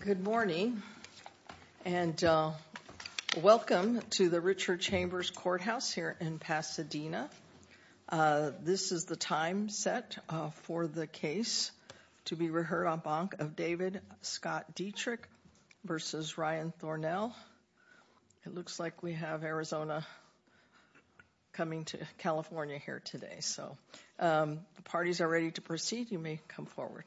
Good morning, and welcome to the Richard Chambers Courthouse here in Pasadena. This is the time set for the case to be reheard en banc of David Scott Dietrich v. Ryan Thornell. It looks like we have Arizona coming to California here today, so the parties are ready to proceed. You may come forward.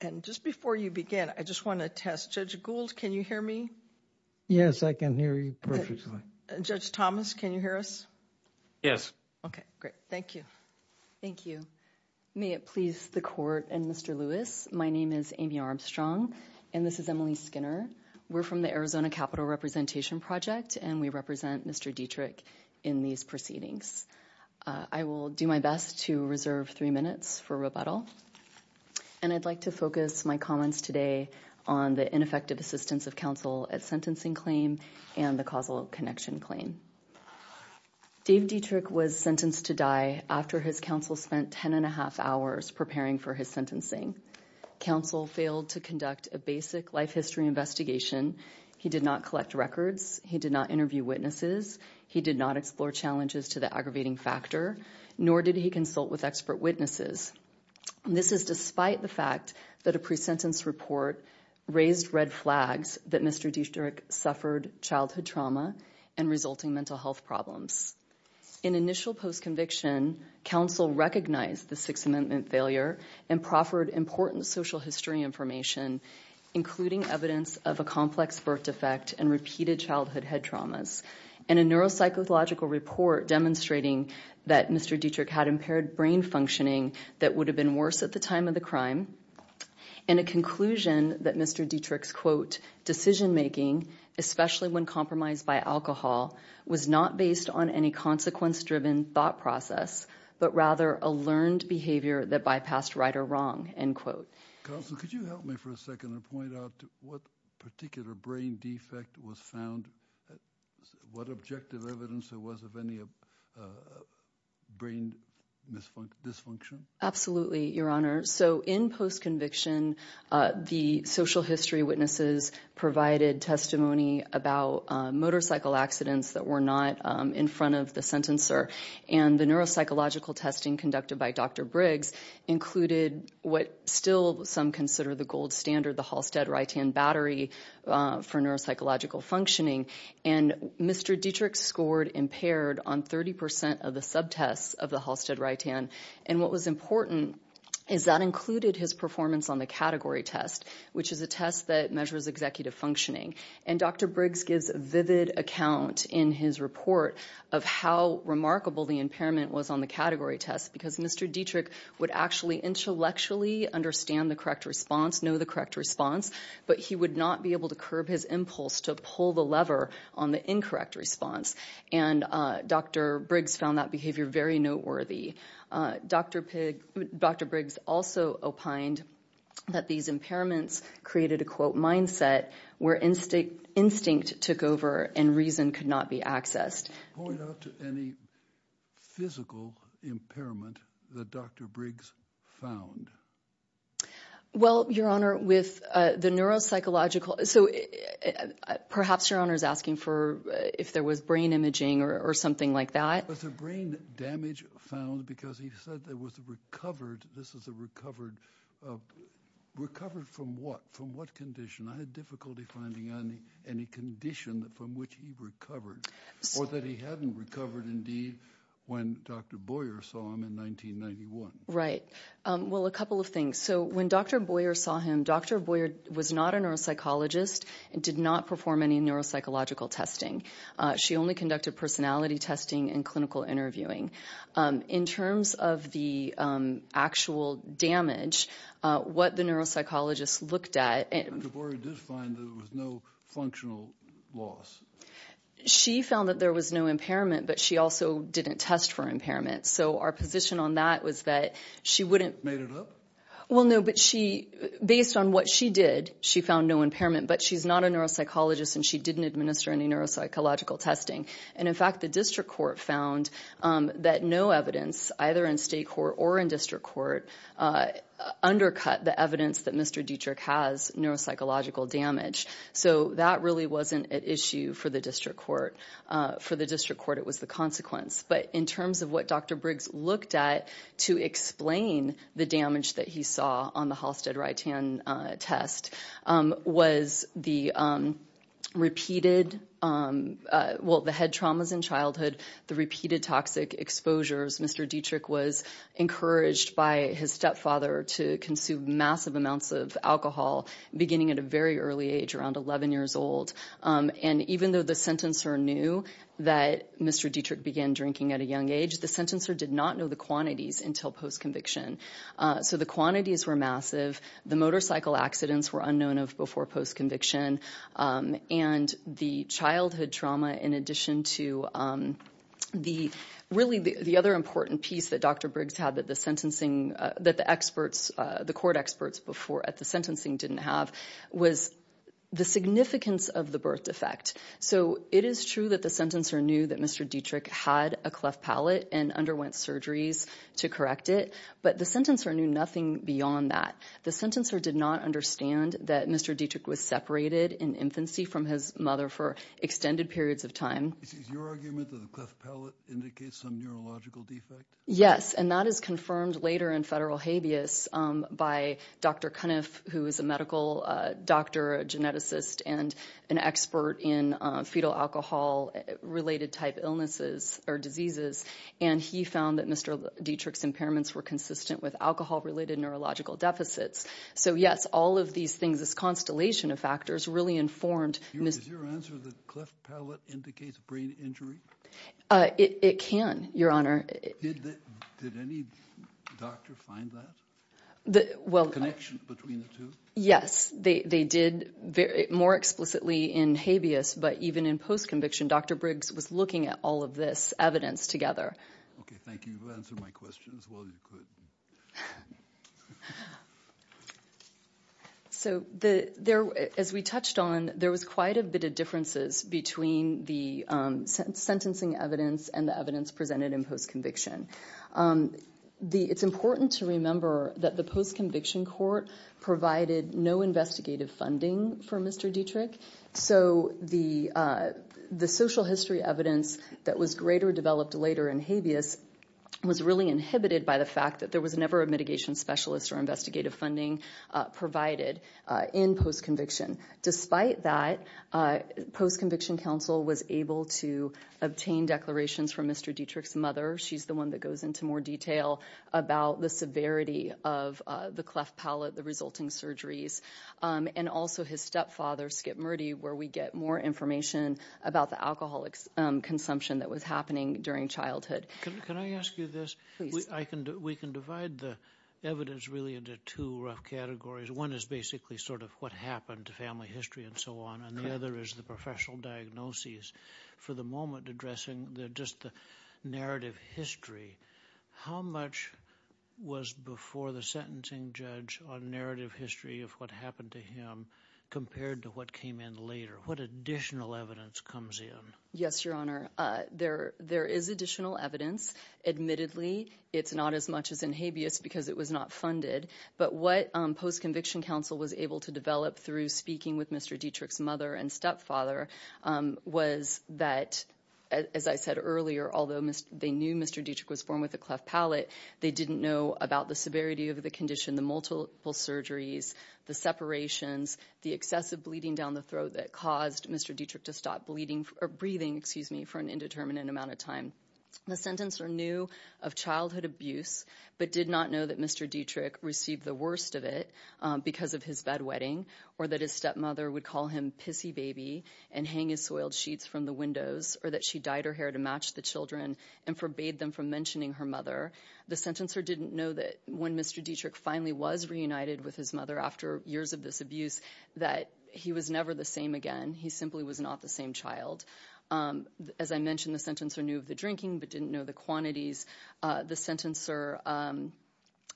And just before you begin, I just want to test Judge Gould. Can you hear me? Yes, I can hear you perfectly. Judge Thomas, can you hear us? Yes. Okay, great. Thank you. Thank you. May it please the Court and Mr. Lewis. My name is Amy Armstrong, and this is Emily Skinner. We're from the Arizona Capital Representation Project, and we represent Mr. Dietrich in these proceedings. I will do my best to reserve three minutes for rebuttal, and I'd like to focus my comments today on the ineffective assistance of counsel at sentencing claim and the causal connection claim. Dave Dietrich was sentenced to die after his counsel spent ten and a half hours preparing for his sentencing. Counsel failed to conduct a basic life history investigation. He did not collect records. He did not interview witnesses. He did not explore challenges to the aggravating factor, nor did he consult with expert witnesses. This is despite the fact that a pre-sentence report raised red flags that Mr. Dietrich suffered childhood trauma and resulting mental health problems. In initial post-conviction, counsel recognized the Sixth Amendment failure and proffered important social history information, including evidence of a complex birth defect and repeated childhood head traumas, and a neuropsychological report demonstrating that Mr. Dietrich had impaired brain functioning that would have been worse at the time of the crime, and a conclusion that Mr. Dietrich's, quote, decision-making, especially when compromised by alcohol, was not based on any consequence-driven thought process, but rather a learned behavior that bypassed right or wrong, end quote. Counsel, could you help me for a second and point out what particular brain defect was found, what objective evidence there was of any brain dysfunction? Absolutely, Your Honor. So in post-conviction, the social history witnesses provided testimony about motorcycle accidents that were not in front of the sentencer, and the neuropsychological testing conducted by Dr. Briggs included what still some consider the gold standard, the Halstead-Ritan battery for neuropsychological functioning, and Mr. Dietrich scored impaired on 30% of the subtests of the Halstead-Ritan. And what was important is that included his performance on the category test, which is a test that measures executive functioning. And Dr. Briggs gives vivid account in his report of how remarkable the impairment was on the category test, because Mr. Dietrich would actually intellectually understand the correct response, know the correct response, but he would not be able to curb his impulse to pull the lever on the incorrect response. And Dr. Briggs found that behavior very noteworthy. Dr. Briggs also opined that these impairments created a, quote, mindset where instinct took over and reason could not be accessed. Point out to any physical impairment that Dr. Briggs found. Well, Your Honor, with the neuropsychological, so perhaps Your Honor is asking for if there was brain imaging or something like that. Was there brain damage found, because he said there was a recovered, this is a recovered, recovered from what? From what condition? I had difficulty finding any condition from which he recovered, or that he hadn't recovered indeed when Dr. Boyer saw him in 1991. Right. Well, a couple of things. So when Dr. Boyer saw him, Dr. Boyer was not a neuropsychologist and did not perform any neuropsychological testing. She only conducted personality testing and clinical interviewing. In terms of the actual damage, what the neuropsychologist looked at. Dr. Boyer did find that there was no functional loss. She found that there was no impairment, but she also didn't test for impairment. So our position on that was that she wouldn't. Made it up? Well, no, but she, based on what she did, she found no impairment, but she's not a neuropsychologist and she didn't administer any neuropsychological testing. And in fact, the district court found that no evidence, either in state court or in district court, undercut the evidence that Mr. Dietrich has neuropsychological damage. So that really wasn't an issue for the district court. For the district court, it was the consequence. But in terms of what Dr. Briggs looked at to explain the damage that he saw on the Halstead Ritan test, was the repeated, well, the head traumas in childhood, the repeated toxic exposures. Mr. Dietrich was encouraged by his stepfather to consume massive amounts of alcohol, beginning at a very early age, around 11 years old. And even though the sentencer knew that Mr. Dietrich began drinking at a young age, the sentencer did not know the quantities until post-conviction. So the quantities were massive. The motorcycle accidents were unknown of before post-conviction. And the childhood trauma, in addition to the, really the other important piece that Dr. Briggs had that the sentencing, that the experts, the court experts before at the sentencing didn't have, was the significance of the birth defect. So it is true that the sentencer knew that Mr. Dietrich had a cleft palate and underwent surgeries to correct it. But the sentencer knew nothing beyond that. The sentencer did not understand that Mr. Dietrich was separated in infancy from his mother for extended periods of time. Is your argument that the cleft palate indicates some neurological defect? Yes. And that is confirmed later in federal habeas by Dr. Cunniff, who is a medical doctor, a geneticist, and an expert in fetal alcohol-related type illnesses or diseases. And he found that Mr. Dietrich's impairments were consistent with alcohol-related neurological deficits. So, yes, all of these things, this constellation of factors, really informed Mr. Is your answer that cleft palate indicates brain injury? It can, Your Honor. Did any doctor find that? The connection between the two? Yes. They did. More explicitly in habeas, but even in post-conviction, Dr. Briggs was looking at all of this evidence together. Okay. Thank you. You've answered my question as well as you could. So as we touched on, there was quite a bit of differences between the sentencing evidence and the evidence presented in post-conviction. It's important to remember that the post-conviction court provided no investigative funding for Mr. Dietrich. So the social history evidence that was greater developed later in habeas was really inhibited by the fact that there was never a mitigation specialist or investigative funding provided in post-conviction. Despite that, post-conviction counsel was able to obtain declarations from Mr. Dietrich's mother. She's the one that goes into more detail about the severity of the cleft palate, the resulting severity, where we get more information about the alcohol consumption that was happening during childhood. Can I ask you this? We can divide the evidence really into two rough categories. One is basically sort of what happened to family history and so on, and the other is the professional diagnoses. For the moment, addressing just the narrative history, how much was before the sentencing judge on narrative history of what happened to him compared to what came in later? What additional evidence comes in? Yes, Your Honor. There is additional evidence. Admittedly, it's not as much as in habeas because it was not funded, but what post-conviction counsel was able to develop through speaking with Mr. Dietrich's mother and stepfather was that, as I said earlier, although they knew Mr. Dietrich was born with a cleft palate, they didn't know about the severity of the condition, the multiple surgeries, the separations, the excessive bleeding down the throat that caused Mr. Dietrich to stop breathing for an indeterminate amount of time. The sentencer knew of childhood abuse but did not know that Mr. Dietrich received the worst of it because of his bedwetting or that his stepmother would call him Pissy Baby and hang his soiled sheets from the windows or that she dyed her hair to match the children and forbade them from mentioning her mother. The sentencer didn't know that when Mr. Dietrich finally was reunited with his mother after years of this abuse that he was never the same again. He simply was not the same child. As I mentioned, the sentencer knew of the drinking but didn't know the quantities. The sentencer,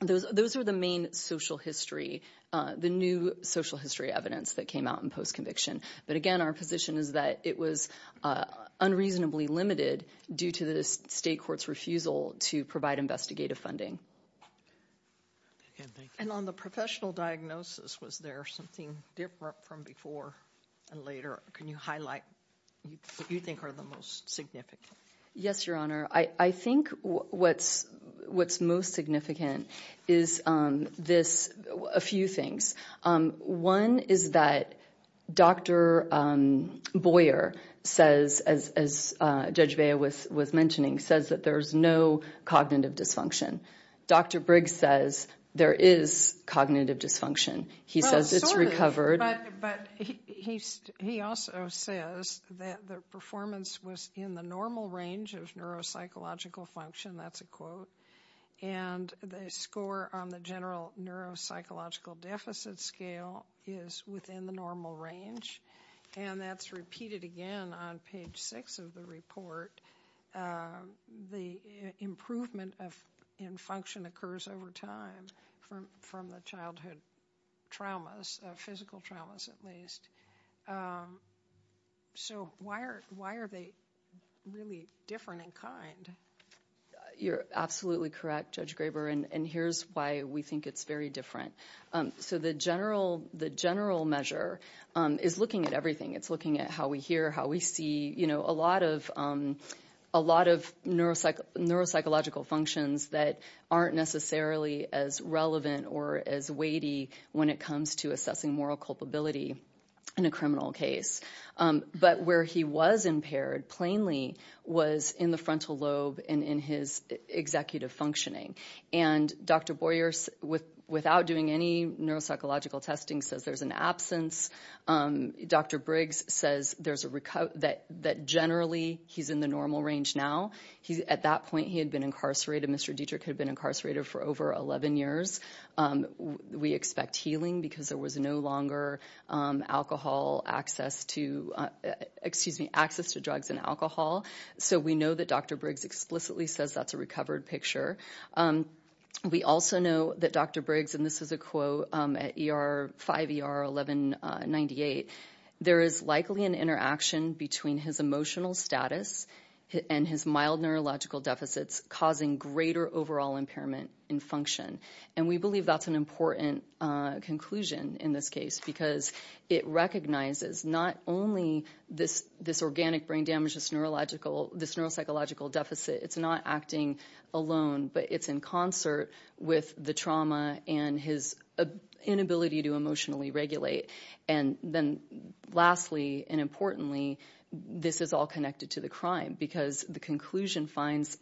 those are the main social history, the new social history evidence that came out in post-conviction. But again, our position is that it was unreasonably limited due to the state court's refusal to provide investigative funding. And on the professional diagnosis, was there something different from before and later? Can you highlight what you think are the most significant? Yes, Your Honor. I think what's most significant is this, a few things. One is that Dr. Boyer says, as Judge Baya was mentioning, says that there's no cognitive dysfunction. Dr. Briggs says there is cognitive dysfunction. He says it's recovered. But he also says that the performance was in the normal range of neuropsychological function, that's a quote. And the score on the general neuropsychological deficit scale is within the normal range. And that's repeated again on page six of the report. The improvement in function occurs over time from the childhood traumas, physical traumas at least. So why are they really different in kind? You're absolutely correct, Judge Graber, and here's why we think it's very different. So the general measure is looking at everything. It's looking at how we hear, how we see, a lot of neuropsychological functions that aren't necessarily as relevant or as weighty when it comes to assessing moral culpability in a criminal case. But where he was impaired, plainly, was in the frontal lobe and in his executive functioning. And Dr. Boyer, without doing any neuropsychological testing, says there's an absence. Dr. Briggs says that generally he's in the normal range now. At that point, he had been incarcerated. Mr. Dietrich had been incarcerated for over 11 years. We expect healing because there was no longer alcohol access to, excuse me, access to drugs and alcohol. So we know that Dr. Briggs explicitly says that's a recovered picture. We also know that Dr. Briggs, and this is a quote at 5ER 1198, there is likely an interaction between his emotional status and his mild neurological deficits causing greater overall impairment in function. And we believe that's an important conclusion in this case because it recognizes not only this organic brain damage, this neuropsychological deficit, it's not acting alone, but it's in concert with the trauma and his inability to emotionally regulate. And then lastly and importantly, this is all connected to the crime because the conclusion finds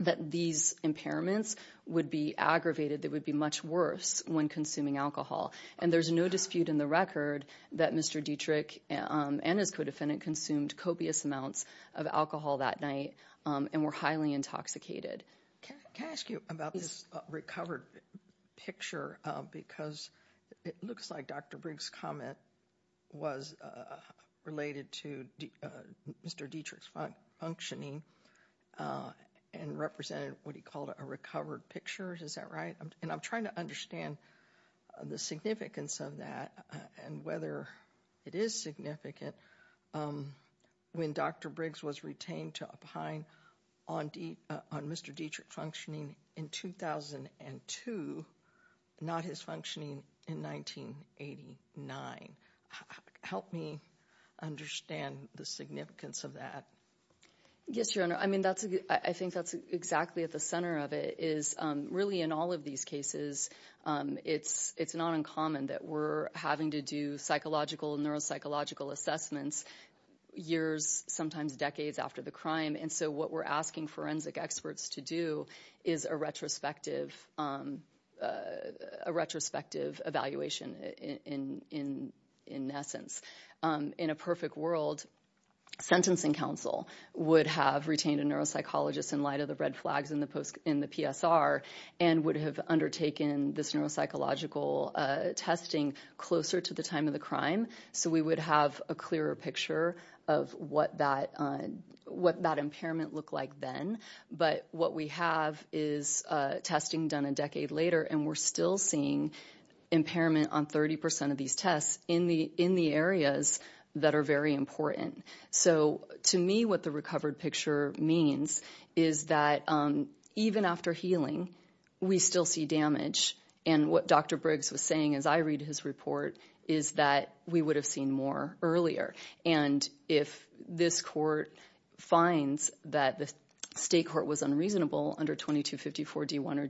that these impairments would be aggravated, they would be much worse when consuming alcohol. And there's no dispute in the record that Mr. Dietrich and his co-defendant consumed copious amounts of alcohol that night and were highly intoxicated. Can I ask you about this recovered picture because it looks like Dr. Briggs' comment was related to Mr. Dietrich's functioning and represented what he called a recovered picture. Is that right? And I'm trying to understand the significance of that and whether it is significant when Dr. Briggs was retained to opine on Mr. Dietrich functioning in 2002, not his functioning in 1989. Help me understand the significance of that. Yes, Your Honor. I think that's exactly at the center of it is really in all of these cases, it's not uncommon that we're having to do psychological and neuropsychological assessments years, sometimes decades after the crime. And so what we're asking forensic experts to do is a retrospective evaluation in essence. In a perfect world, sentencing counsel would have retained a neuropsychologist in light of the red flags in the PSR and would have undertaken this neuropsychological testing closer to the time of the crime. So we would have a clearer picture of what that impairment looked like then. But what we have is testing done a decade later and we're still seeing impairment on 30% of these tests in the areas that are very important. So to me, what the recovered picture means is that even after healing, we still see damage. And what Dr. Briggs was saying as I read his report is that we would have seen more earlier. And if this court finds that the state court was unreasonable under 2254 D1 or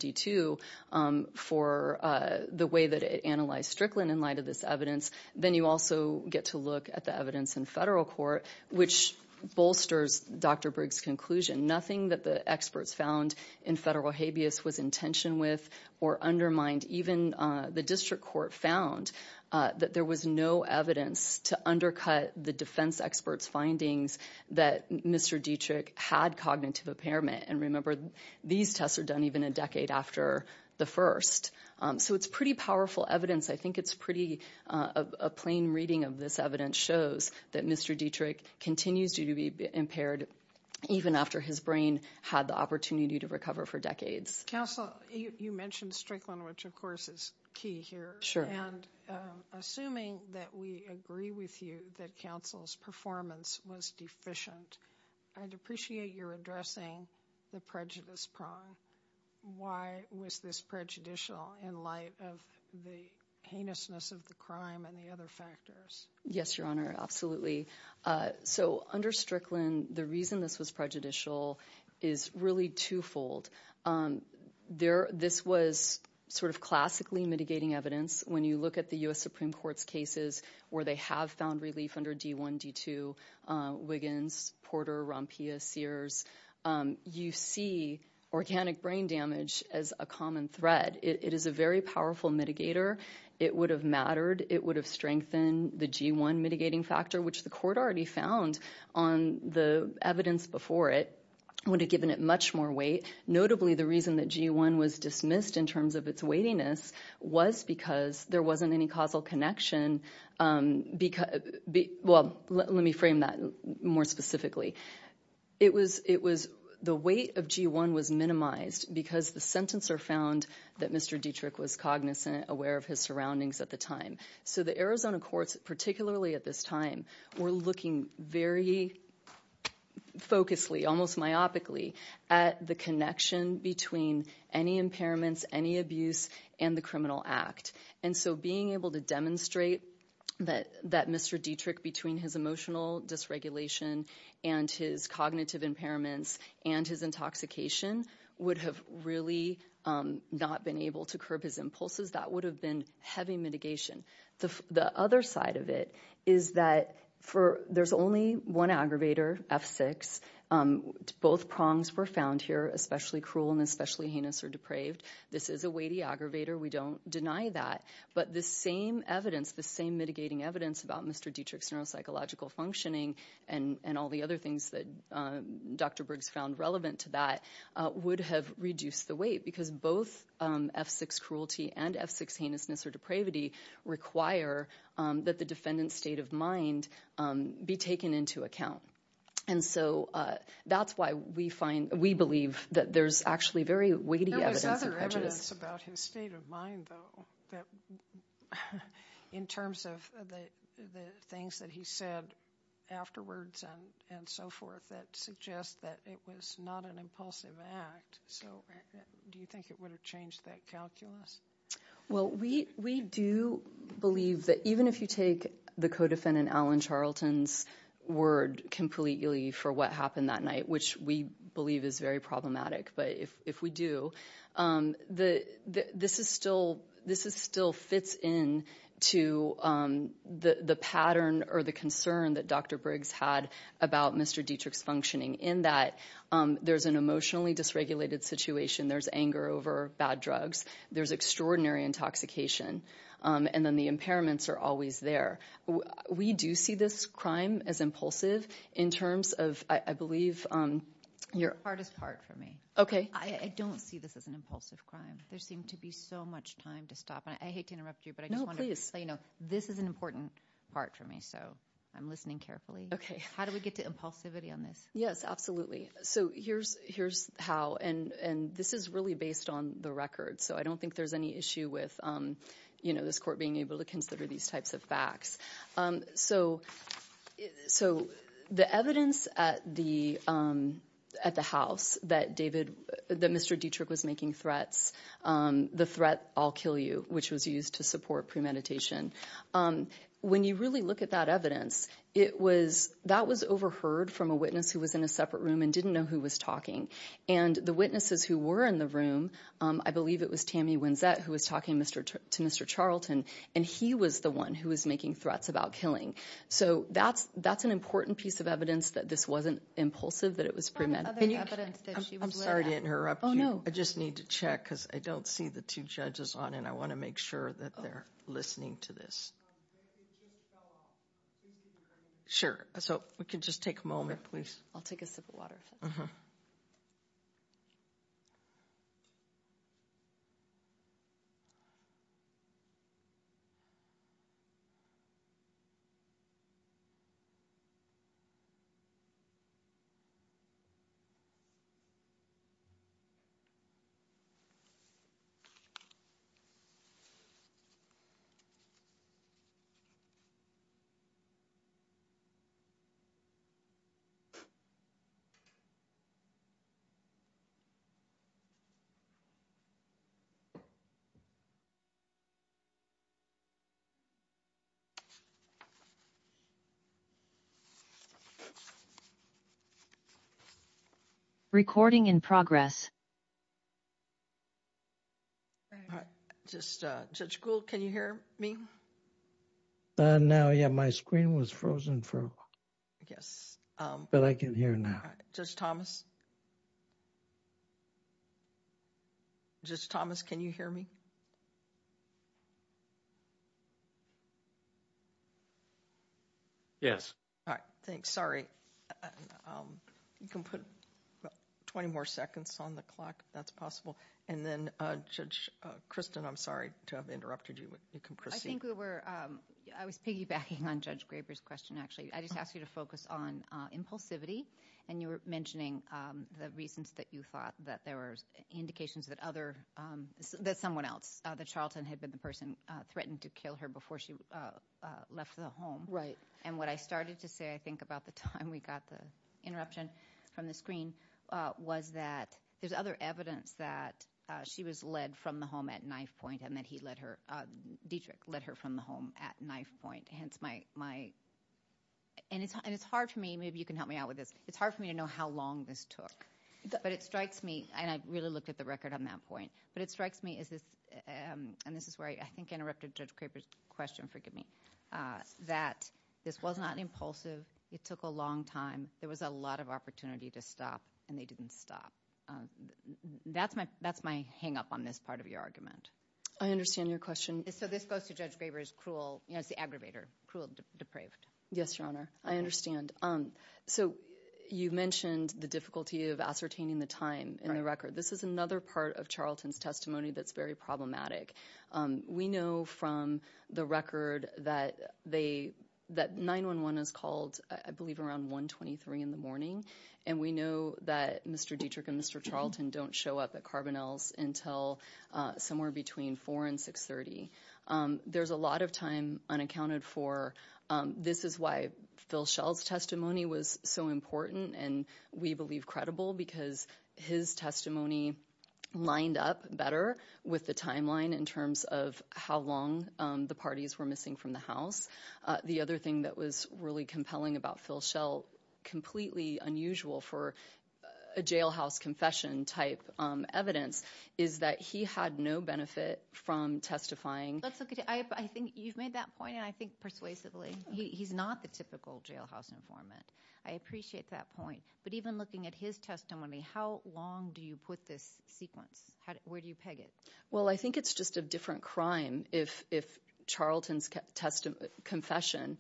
D2 for the way that it analyzed Strickland in light of this evidence, then you also get to look at the evidence in federal court, which bolsters Dr. Briggs' conclusion. Nothing that the experts found in federal habeas was in tension with or undermined. Even the district court found that there was no evidence to undercut the defense experts' findings that Mr. Dietrich had cognitive impairment. And remember, these tests are done even a decade after the first. So it's pretty powerful evidence. I think it's pretty, a plain reading of this evidence shows that Mr. Dietrich continues to be impaired even after his brain had the opportunity to recover for decades. Counsel, you mentioned Strickland, which of course is key here. And assuming that we agree with you that counsel's performance was deficient, I'd appreciate your addressing the prejudice prong. Why was this prejudicial in light of the heinousness of the crime and the other factors? Yes, Your Honor, absolutely. So under Strickland, the reason this was prejudicial is really twofold. This was sort of classically mitigating evidence. When you look at the U.S. Supreme Court's cases where they have found relief under D1, D2, Wiggins, Porter, Rompia, Sears, you see organic brain damage as a common thread. It is a very powerful mitigator. It would have mattered. It would have strengthened the G1 mitigating factor, which the court already found on the evidence before it, would have given it much more weight. Notably, the reason that G1 was dismissed in terms of its weightiness was because there wasn't any causal connection, because, well, let me frame that more specifically. It was, the weight of G1 was minimized because the sentencer found that Mr. Dietrich was cognizant, aware of his surroundings at the time. So the Arizona courts, particularly at this time, were looking very focussly, almost myopically, at the connection between any impairments, any abuse, and the criminal act. And so being able to demonstrate that Mr. Dietrich, between his emotional dysregulation and his cognitive impairments and his intoxication, would have really not been able to curb his impulses, that would have been heavy mitigation. The other side of it is that there's only one aggravator, F6. Both prongs were found here, especially cruel and especially heinous or depraved. This is a weighty aggravator, we don't deny that. But the same evidence, the same mitigating evidence about Mr. Dietrich's neuropsychological dysfunctioning and all the other things that Dr. Briggs found relevant to that would have reduced the weight. Because both F6 cruelty and F6 heinousness or depravity require that the defendant's state of mind be taken into account. And so, that's why we believe that there's actually very weighty evidence of prejudice. There's weighty evidence about his state of mind, though, that in terms of the things that he said afterwards and so forth. That suggests that it was not an impulsive act, so do you think it would have changed that calculus? Well, we do believe that even if you take the co-defendant, Alan Charlton's word completely for what happened that night, which we believe is very problematic, but if we do, this still fits in to the pattern or the concern that Dr. Briggs had about Mr. Dietrich's functioning. In that, there's an emotionally dysregulated situation, there's anger over bad drugs, there's extraordinary intoxication, and then the impairments are always there. We do see this crime as impulsive in terms of, I believe, your- Hardest part for me. Okay. I don't see this as an impulsive crime. There seemed to be so much time to stop. I hate to interrupt you, but I just wanted to let you know, this is an important part for me, so I'm listening carefully. Okay. How do we get to impulsivity on this? Yes, absolutely. So here's how, and this is really based on the record. So I don't think there's any issue with this court being able to consider these types of facts. So the evidence at the house that Mr. Dietrich was making threats, the threat, I'll kill you, which was used to support premeditation. When you really look at that evidence, that was overheard from a witness who was in a separate room and didn't know who was talking. And the witnesses who were in the room, I believe it was Tammy Winsett who was talking to Mr. Charlton, and he was the one who was making threats about killing. So that's an important piece of evidence that this wasn't impulsive, that it was premed. Can you- I'm sorry to interrupt you. Oh, no. I just need to check, because I don't see the two judges on, and I want to make sure that they're listening to this. Sure, so we can just take a moment, please. I'll take a sip of water. Recording in progress. All right. Just, Judge Gould, can you hear me? Now, yeah, my screen was frozen for a while. Yes. But I can hear now. Judge Thomas? Judge Thomas, can you hear me? Yes. All right. Thanks. You can put 20 more seconds on the clock, if that's possible. And then, Judge Kristen, I'm sorry to have interrupted you, but you can proceed. I think we were- I was piggybacking on Judge Graber's question, actually. I just asked you to focus on impulsivity. And you were mentioning the reasons that you thought that there were indications that other- that someone else, that Charlton had been the person threatened to kill her before she left the home. Right. And what I started to say, I think, about the time we got the interruption from the screen, was that there's other evidence that she was led from the home at knife point, and that he led her- Dietrich led her from the home at knife point. Hence, my- and it's hard for me, maybe you can help me out with this, it's hard for me to know how long this took. But it strikes me, and I really looked at the record on that point, but it strikes me as this- and this is where I think I interrupted Judge Graber's question, forgive me, that this was not impulsive. It took a long time. There was a lot of opportunity to stop, and they didn't stop. That's my hang-up on this part of your argument. I understand your question. So this goes to Judge Graber's cruel- it's the aggravator. Cruel, depraved. Yes, Your Honor. I understand. So you mentioned the difficulty of ascertaining the time in the record. This is another part of Charlton's testimony that's very problematic. We know from the record that 9-1-1 is called, I believe, around 1-23 in the morning. And we know that Mr. Dietrich and Mr. Charlton don't show up at Carbonell's somewhere between 4 and 6.30. There's a lot of time unaccounted for. This is why Phil Schell's testimony was so important, and we believe credible, because his testimony lined up better with the timeline in terms of how long the parties were missing from the house. The other thing that was really compelling about Phil Schell, completely unusual for a jailhouse confession type evidence, is that he had no benefit from testifying. Let's look at- I think you've made that point, and I think persuasively. He's not the typical jailhouse informant. I appreciate that point. But even looking at his testimony, how long do you put this sequence? Where do you peg it? Well, I think it's just a different crime if Charlton's confession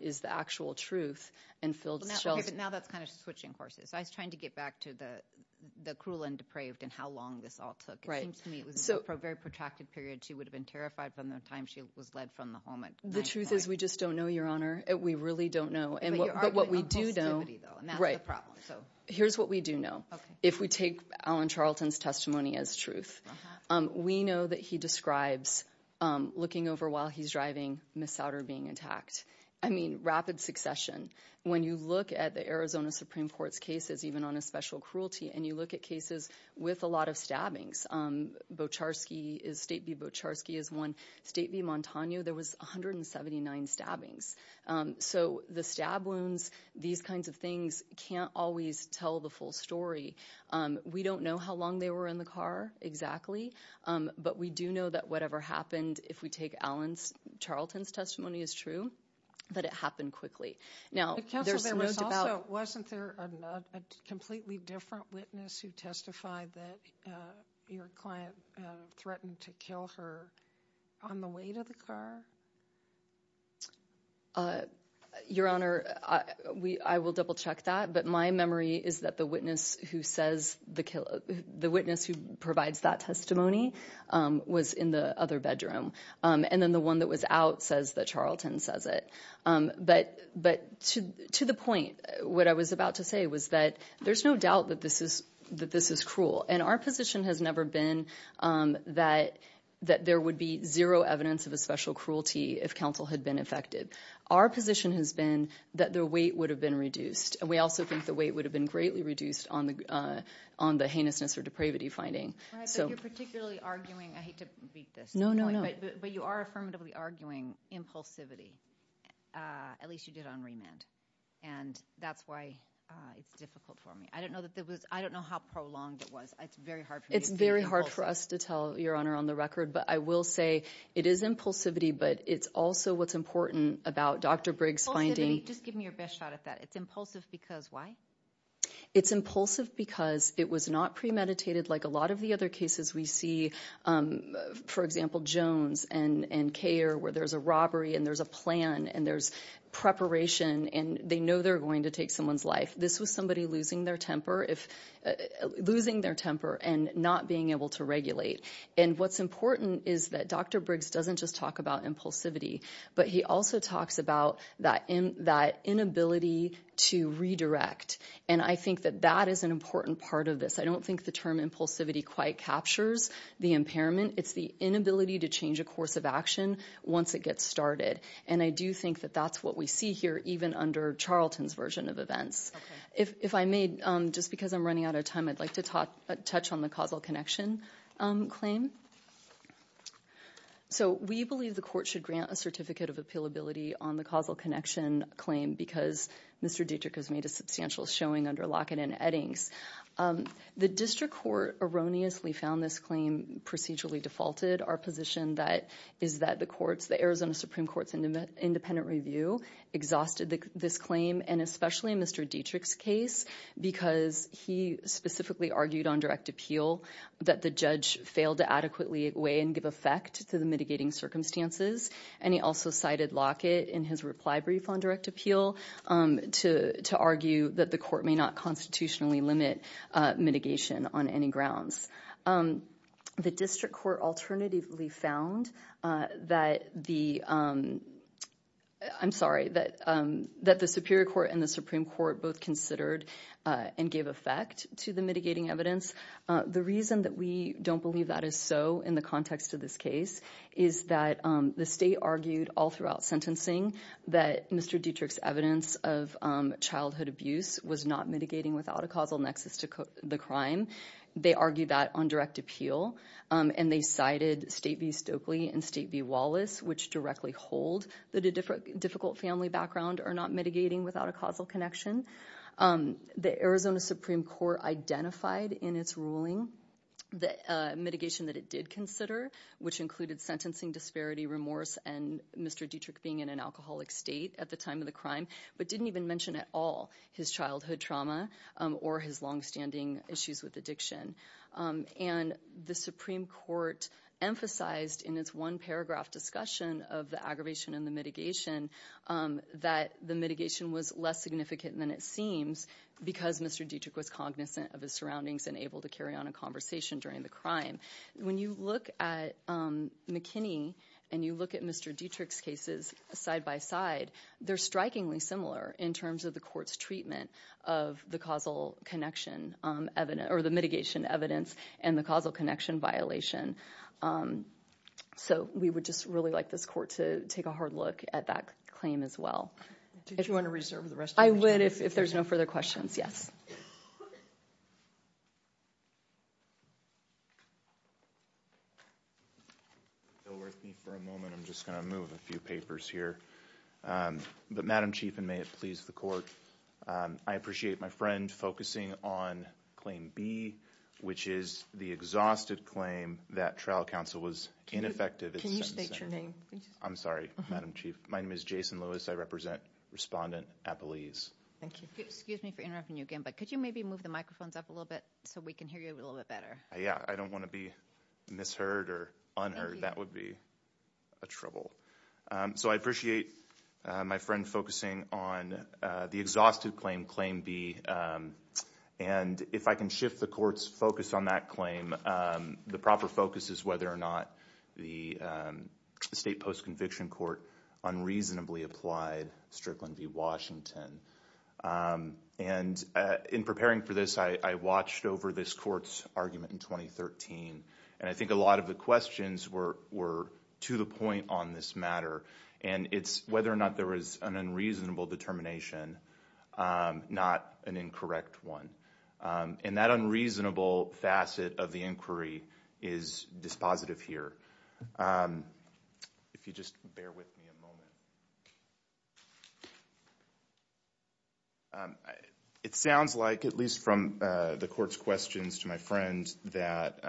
is the actual truth, and Phil Schell's- Now that's kind of switching courses. I was trying to get back to the cruel and depraved and how long this all took. It seems to me it was a very protracted period. She would have been terrified from the time she was led from the home at 9 o'clock. The truth is we just don't know, Your Honor. We really don't know. But you're arguing on positivity, though, and that's the problem. Here's what we do know. If we take Alan Charlton's testimony as truth, we know that he describes looking over while he's driving, Miss Souder being attacked. I mean, rapid succession. When you look at the Arizona Supreme Court's cases, even on a special cruelty, and you look at cases with a lot of stabbings, Bocharski, State v. Bocharski is one. State v. Montano, there was 179 stabbings. So the stab wounds, these kinds of things can't always tell the full story. We don't know how long they were in the car exactly. But we do know that whatever happened, if we take Alan Charlton's testimony as true, that it happened quickly. Now, there's some notes about— Wasn't there a completely different witness who testified that your client threatened to kill her on the way to the car? Your Honor, I will double-check that. But my memory is that the witness who provides that testimony was in the other bedroom. And then the one that was out says that Charlton says it. But to the point, what I was about to say was that there's no doubt that this is cruel. And our position has never been that there would be zero evidence of a special cruelty if counsel had been affected. Our position has been that the weight would have been reduced. And we also think the weight would have been greatly reduced on the heinousness or depravity finding. Right, but you're particularly arguing—I hate to beat this. No, no, no. But you are affirmatively arguing impulsivity. At least you did on remand. And that's why it's difficult for me. I don't know that there was—I don't know how prolonged it was. It's very hard for me to— It's very hard for us to tell, Your Honor, on the record. But I will say it is impulsivity. But it's also what's important about Dr. Briggs finding— Just give me your best shot at that. It's impulsive because why? It's impulsive because it was not premeditated like a lot of the other cases we see. For example, Jones and Kayer, where there's a robbery and there's a plan and there's preparation and they know they're going to take someone's life, this was somebody losing their temper and not being able to regulate. And what's important is that Dr. Briggs doesn't just talk about impulsivity, but he also talks about that inability to redirect. And I think that that is an important part of this. I don't think the term impulsivity quite captures the impairment. It's the inability to change a course of action once it gets started. And I do think that that's what we see here even under Charlton's version of events. If I may, just because I'm running out of time, I'd like to touch on the causal connection claim. So we believe the court should grant a certificate of appealability on the causal connection claim because Mr. Dietrich has made a substantial showing under Lockett and Eddings. The district court erroneously found this claim procedurally defaulted. Our position is that the Arizona Supreme Court's independent review exhausted this claim and especially in Mr. Dietrich's case because he specifically argued on direct appeal that the judge failed to adequately weigh and give effect to the mitigating circumstances. And he also cited Lockett in his reply brief on direct appeal to argue that the court may not constitutionally limit mitigation on any grounds. The district court alternatively found that the... I'm sorry, that the Superior Court and the Supreme Court both considered and gave effect to the mitigating evidence. The reason that we don't believe that is so in the context of this case is that the state argued all throughout sentencing that Mr. Dietrich's evidence of childhood abuse was not mitigating without a causal nexus to the crime. They argued that on direct appeal and they cited State v. Stokely and State v. Wallace which directly hold that a difficult family background are not mitigating without a causal connection. The Arizona Supreme Court identified in its ruling the mitigation that it did consider which included sentencing disparity, remorse and Mr. Dietrich being in an alcoholic state at the time of the crime but didn't even mention at all his childhood trauma or his long-standing issues with addiction. And the Supreme Court emphasized in its one paragraph discussion of the aggravation and the mitigation that the mitigation was less significant than it seems because Mr. Dietrich was cognizant of his surroundings and able to carry on a conversation during the crime. When you look at McKinney and you look at Mr. Dietrich's cases side by side they're strikingly similar in terms of the court's treatment of the causal connection or the mitigation evidence and the causal connection violation. So we would just really like this court to take a hard look at that claim as well. Do you want to reserve the rest? I would if there's no further questions. Yes. If you'll work with me for a moment I'm just going to move a few papers here. But Madam Chief and may it please the court I appreciate my friend focusing on claim B which is the exhausted claim that trial counsel was ineffective. Can you state your name? I'm sorry Madam Chief. My name is Jason Lewis. I represent Respondent Appalese. Thank you. Excuse me for interrupting you again but could you maybe move the microphones up a little bit so we can hear you a little bit better? Yeah I don't want to be misheard or unheard. That would be a trouble. So I appreciate my friend focusing on the exhausted claim, claim B. And if I can shift the court's focus on that claim the proper focus is whether or not the state post-conviction court unreasonably applied Strickland v. Washington. And in preparing for this I watched over this court's argument in 2013 and I think a lot of the questions were to the point on this matter. And it's whether or not there was an unreasonable determination not an incorrect one. And that unreasonable facet of the inquiry is dispositive here. If you just bear with me a moment. It sounds like at least from the court's questions to my friend that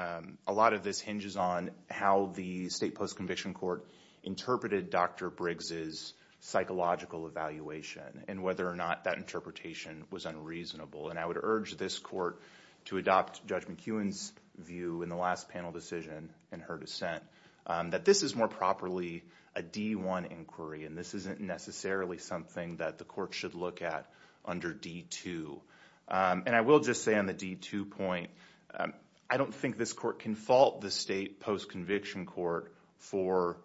a lot of this hinges on how the state post-conviction court interpreted Dr. Briggs' psychological evaluation and whether or not that interpretation was unreasonable. And I would urge this court to adopt Judge McEwen's view in the last panel decision and her dissent that this is more properly a D1 inquiry and this isn't necessarily something that the court should look at under D2. And I will just say on the D2 point I don't think this court can fault the state post-conviction court for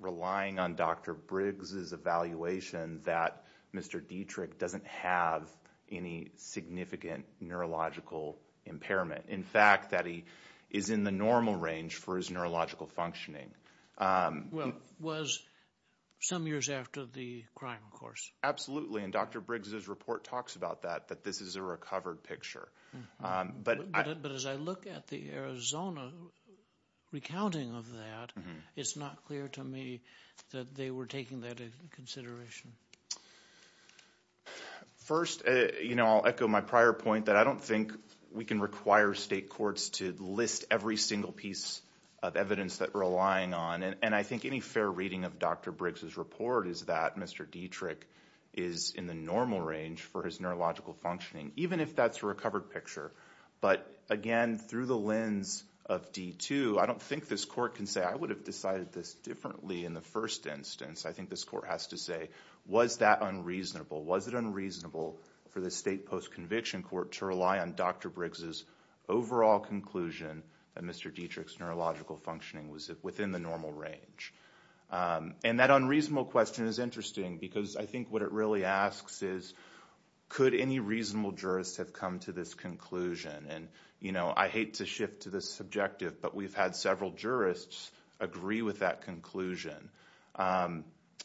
relying on Dr. Briggs' evaluation that Mr. Dietrich doesn't have any significant neurological impairment. In fact, that he is in the normal range for his neurological functioning. Well, it was some years after the crime, of course. Absolutely. And Dr. Briggs' report talks about that, that this is a recovered picture. But as I look at the Arizona recounting of that, it's not clear to me that they were taking that into consideration. First, you know, I'll echo my prior point that I don't think we can require state courts to list every single piece of evidence that we're relying on. And I think any fair reading of Dr. Briggs' report is that Mr. Dietrich is in the normal range for his neurological functioning. Even if that's a recovered picture. But again, through the lens of D2, I don't think this court can say I would have decided this differently in the first instance. I think this court has to say, was that unreasonable? Was it unreasonable for the state post-conviction court to rely on Dr. Briggs' overall conclusion that Mr. Dietrich's neurological functioning was within the normal range? And that unreasonable question is interesting because I think what it really asks is could any reasonable jurist have come to this conclusion? And, you know, I hate to shift to this subjective, but we've had several jurists agree with that conclusion.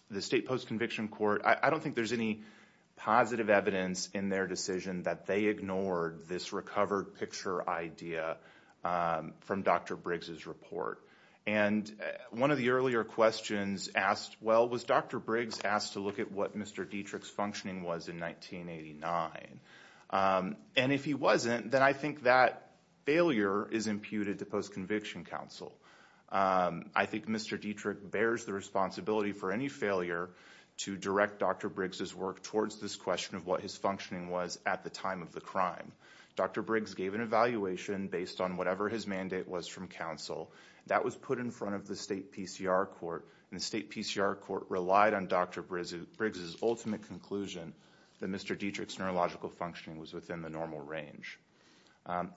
The state post-conviction court, I don't think there's any positive evidence in their decision that they ignored this recovered picture idea from Dr. Briggs' report. And one of the earlier questions asked, well, was Dr. Briggs asked to look at what Mr. Dietrich's functioning was in 1989? And if he wasn't, then I think that failure is imputed to post-conviction counsel. I think Mr. Dietrich bears the responsibility for any failure to direct Dr. Briggs' work towards this question of what his functioning was at the time of the crime. Dr. Briggs gave an evaluation based on whatever his mandate was from counsel. That was put in front of the state PCR court. And the state PCR court relied on Dr. Briggs' ultimate conclusion that Mr. Dietrich's neurological functioning was within the normal range.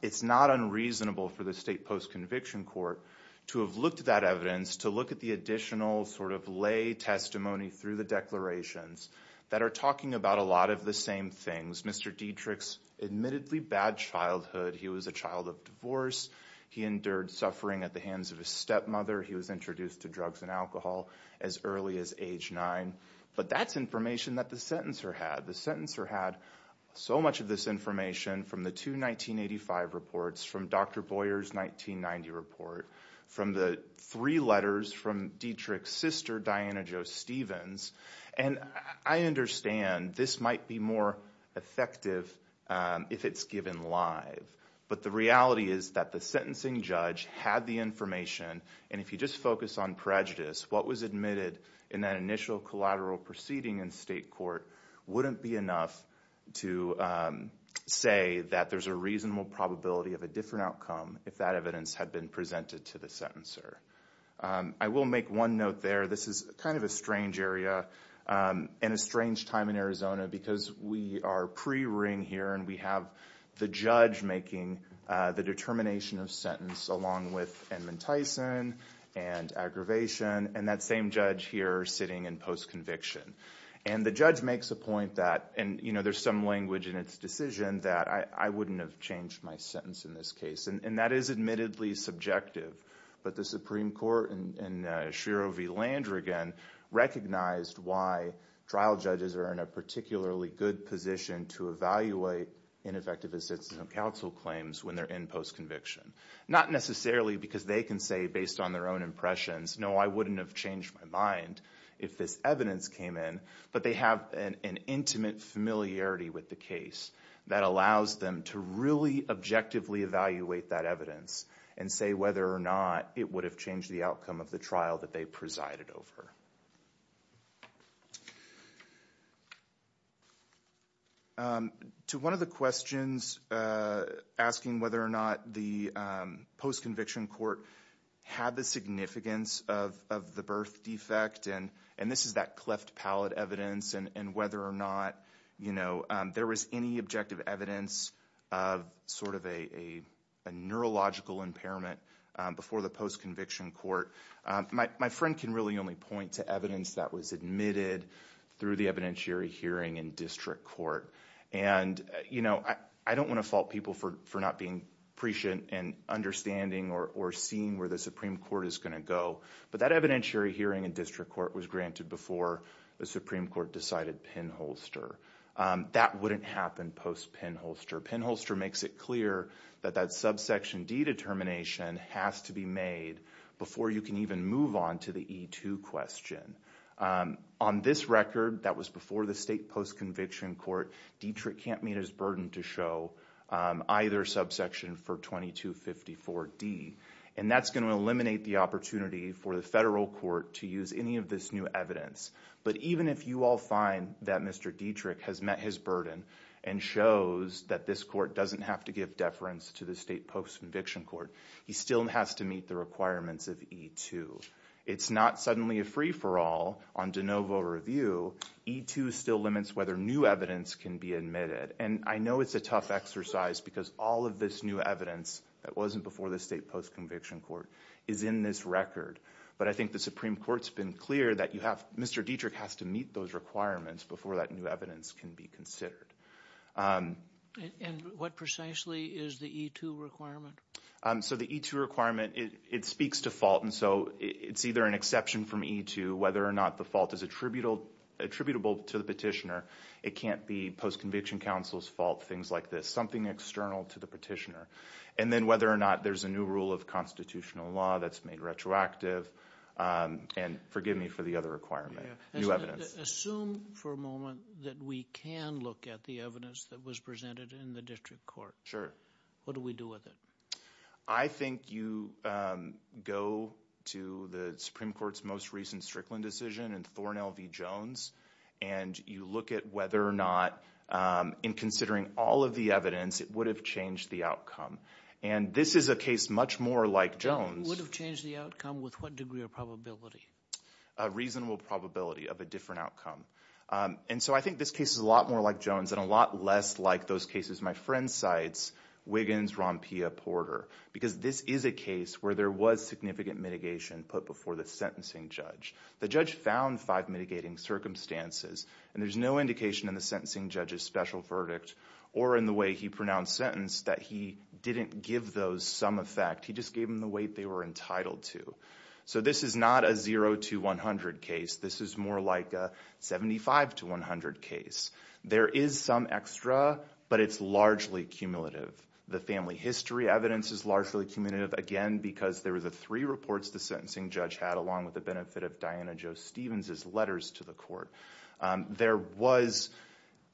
It's not unreasonable for the state post-conviction court to have looked at that evidence, to look at the additional sort of lay testimony through the declarations that are talking about a lot of the same things. Mr. Dietrich's admittedly bad childhood. He was a child of divorce. He endured suffering at the hands of his stepmother. He was introduced to drugs and alcohol as early as age nine. But that's information that the sentencer had. The sentencer had so much of this information from the two 1985 reports, from Dr. Boyer's 1990 report, from the three letters from Dietrich's sister, Diana Jo Stevens. And I understand this might be more effective if it's given live. But the reality is that the sentencing judge had the information. And if you just focus on prejudice, what was admitted in that initial collateral proceeding in state court wouldn't be enough to say that there's a reasonable probability of a different outcome if that evidence had been presented to the sentencer. I will make one note there. This is kind of a strange area and a strange time in Arizona because we are pre-ring here. And we have the judge making the determination of sentence along with Edmund Tyson and aggravation. And that same judge here sitting in post-conviction. And the judge makes a point that, and there's some language in its decision that I wouldn't have changed my sentence in this case. And that is admittedly subjective. But the Supreme Court and Shiro v. Landrigan recognized why trial judges are in a particularly good position to evaluate ineffective assistance of counsel claims when they're in post-conviction. Not necessarily because they can say based on their own impressions, no, I wouldn't have changed my mind if this evidence came in. But they have an intimate familiarity with the case that allows them to really objectively evaluate that evidence and say whether or not it would have changed the outcome of the trial that they presided over. To one of the questions asking whether or not the post-conviction court had the significance of the birth defect. And this is that cleft palate evidence. And whether or not there was any objective evidence of sort of a neurological impairment before the post-conviction court. My friend can really only point to the fact to evidence that was admitted through the evidentiary hearing in district court. And, you know, I don't want to fault people for not being prescient and understanding or seeing where the Supreme Court is going to go. But that evidentiary hearing in district court was granted before the Supreme Court decided pinholster. That wouldn't happen post-pinholster. Pinholster makes it clear that that subsection D determination has to be made before you can even move on to the E2 question. On this record, that was before the state post-conviction court, Dietrich can't meet his burden to show either subsection for 2254D. And that's going to eliminate the opportunity for the federal court to use any of this new evidence. But even if you all find that Mr. Dietrich has met his burden and shows that this court doesn't have to give deference to the state post-conviction court, he still has to meet the requirements of E2. It's not suddenly a free-for-all on de novo review. E2 still limits whether new evidence can be admitted. And I know it's a tough exercise because all of this new evidence that wasn't before the state post-conviction court is in this record. But I think the Supreme Court's been clear that you have, Mr. Dietrich has to meet those requirements before that new evidence can be considered. And what precisely is the E2 requirement? So the E2 requirement, it speaks to fault. And so it's either an exception from E2, whether or not the fault is attributable to the petitioner. It can't be post-conviction counsel's fault, things like this, something external to the petitioner. And then whether or not there's a new rule of constitutional law that's made retroactive. And forgive me for the other requirement, new evidence. Assume for a moment that we can look at the evidence that was presented in the district court. Sure. What do we do with it? I think you go to the Supreme Court's most recent Strickland decision and Thornel v. Jones. And you look at whether or not, in considering all of the evidence, it would have changed the outcome. And this is a case much more like Jones. It would have changed the outcome with what degree of probability? A reasonable probability of a different outcome. And so I think this case is a lot more like Jones and a lot less like those cases my friend cites, Wiggins, Rompia, Porter. Because this is a case where there was significant mitigation put before the sentencing judge. The judge found five mitigating circumstances and there's no indication in the sentencing judge's special verdict or in the way he pronounced sentence that he didn't give those some effect. He just gave them the weight they were entitled to. So this is not a 0 to 100 case. This is more like a 75 to 100 case. There is some extra, but it's largely cumulative. The family history evidence is largely cumulative, again, because there were the three reports the sentencing judge had, along with the benefit of Diana Jo Stevens's letters to the court. There was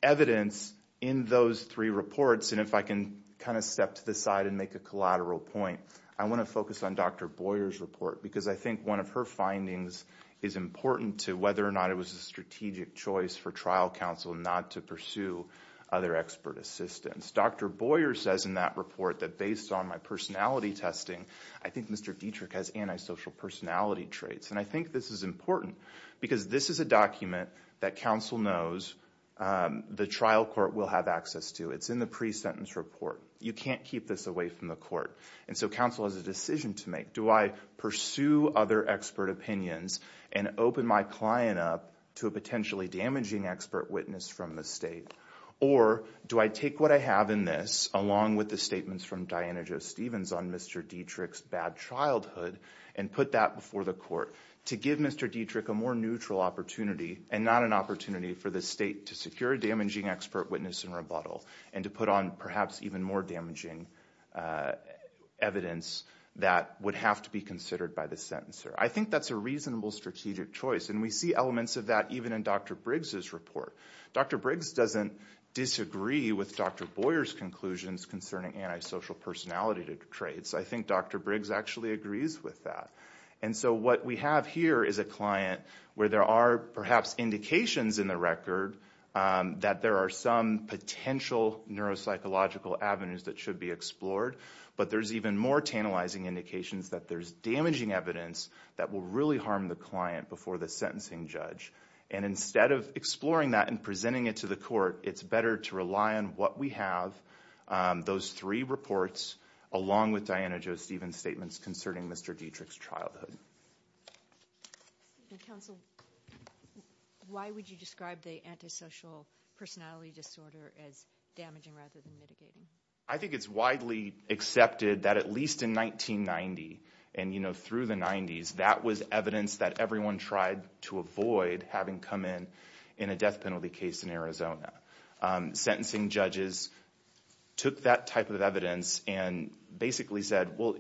evidence in those three reports. And if I can kind of step to the side and make a collateral point, I want to focus on Dr. Boyer's report. Because I think one of her findings is important to whether or not it was a strategic choice for trial counsel not to pursue other expert assistance. Dr. Boyer says in that report that based on my personality testing, I think Mr. Dietrich has antisocial personality traits. And I think this is important because this is a document that counsel knows the trial court will have access to. It's in the pre-sentence report. You can't keep this away from the court. And so counsel has a decision to make. Do I pursue other expert opinions and open my client up to a potentially damaging expert witness from the state? Or do I take what I have in this, along with the statements from Diana Jo Stevens on Mr. Dietrich's bad childhood, and put that before the court to give Mr. Dietrich a more neutral opportunity and not an opportunity for the state to secure a damaging expert witness and rebuttal and to put on perhaps even more damaging evidence that would have to be considered by the sentencer? I think that's a reasonable strategic choice. And we see elements of that even in Dr. Briggs's report. Dr. Briggs doesn't disagree with Dr. Boyer's conclusions concerning antisocial personality traits. I think Dr. Briggs actually agrees with that. And so what we have here is a client where there are perhaps indications in the record that there are some potential neuropsychological avenues that should be explored. But there's even more tantalizing indications that there's damaging evidence that will really harm the client before the sentencing judge. And instead of exploring that and presenting it to the court, it's better to rely on what we have, those three reports, along with Diana Jo Stevens' statements concerning Mr. Dietrich's childhood. And counsel, why would you describe the antisocial personality disorder as damaging rather than mitigating? I think it's widely accepted that at least in 1990, and you know, through the 90s, that was evidence that everyone tried to avoid having come in in a death penalty case in Arizona. Sentencing judges took that type of evidence and basically said, well,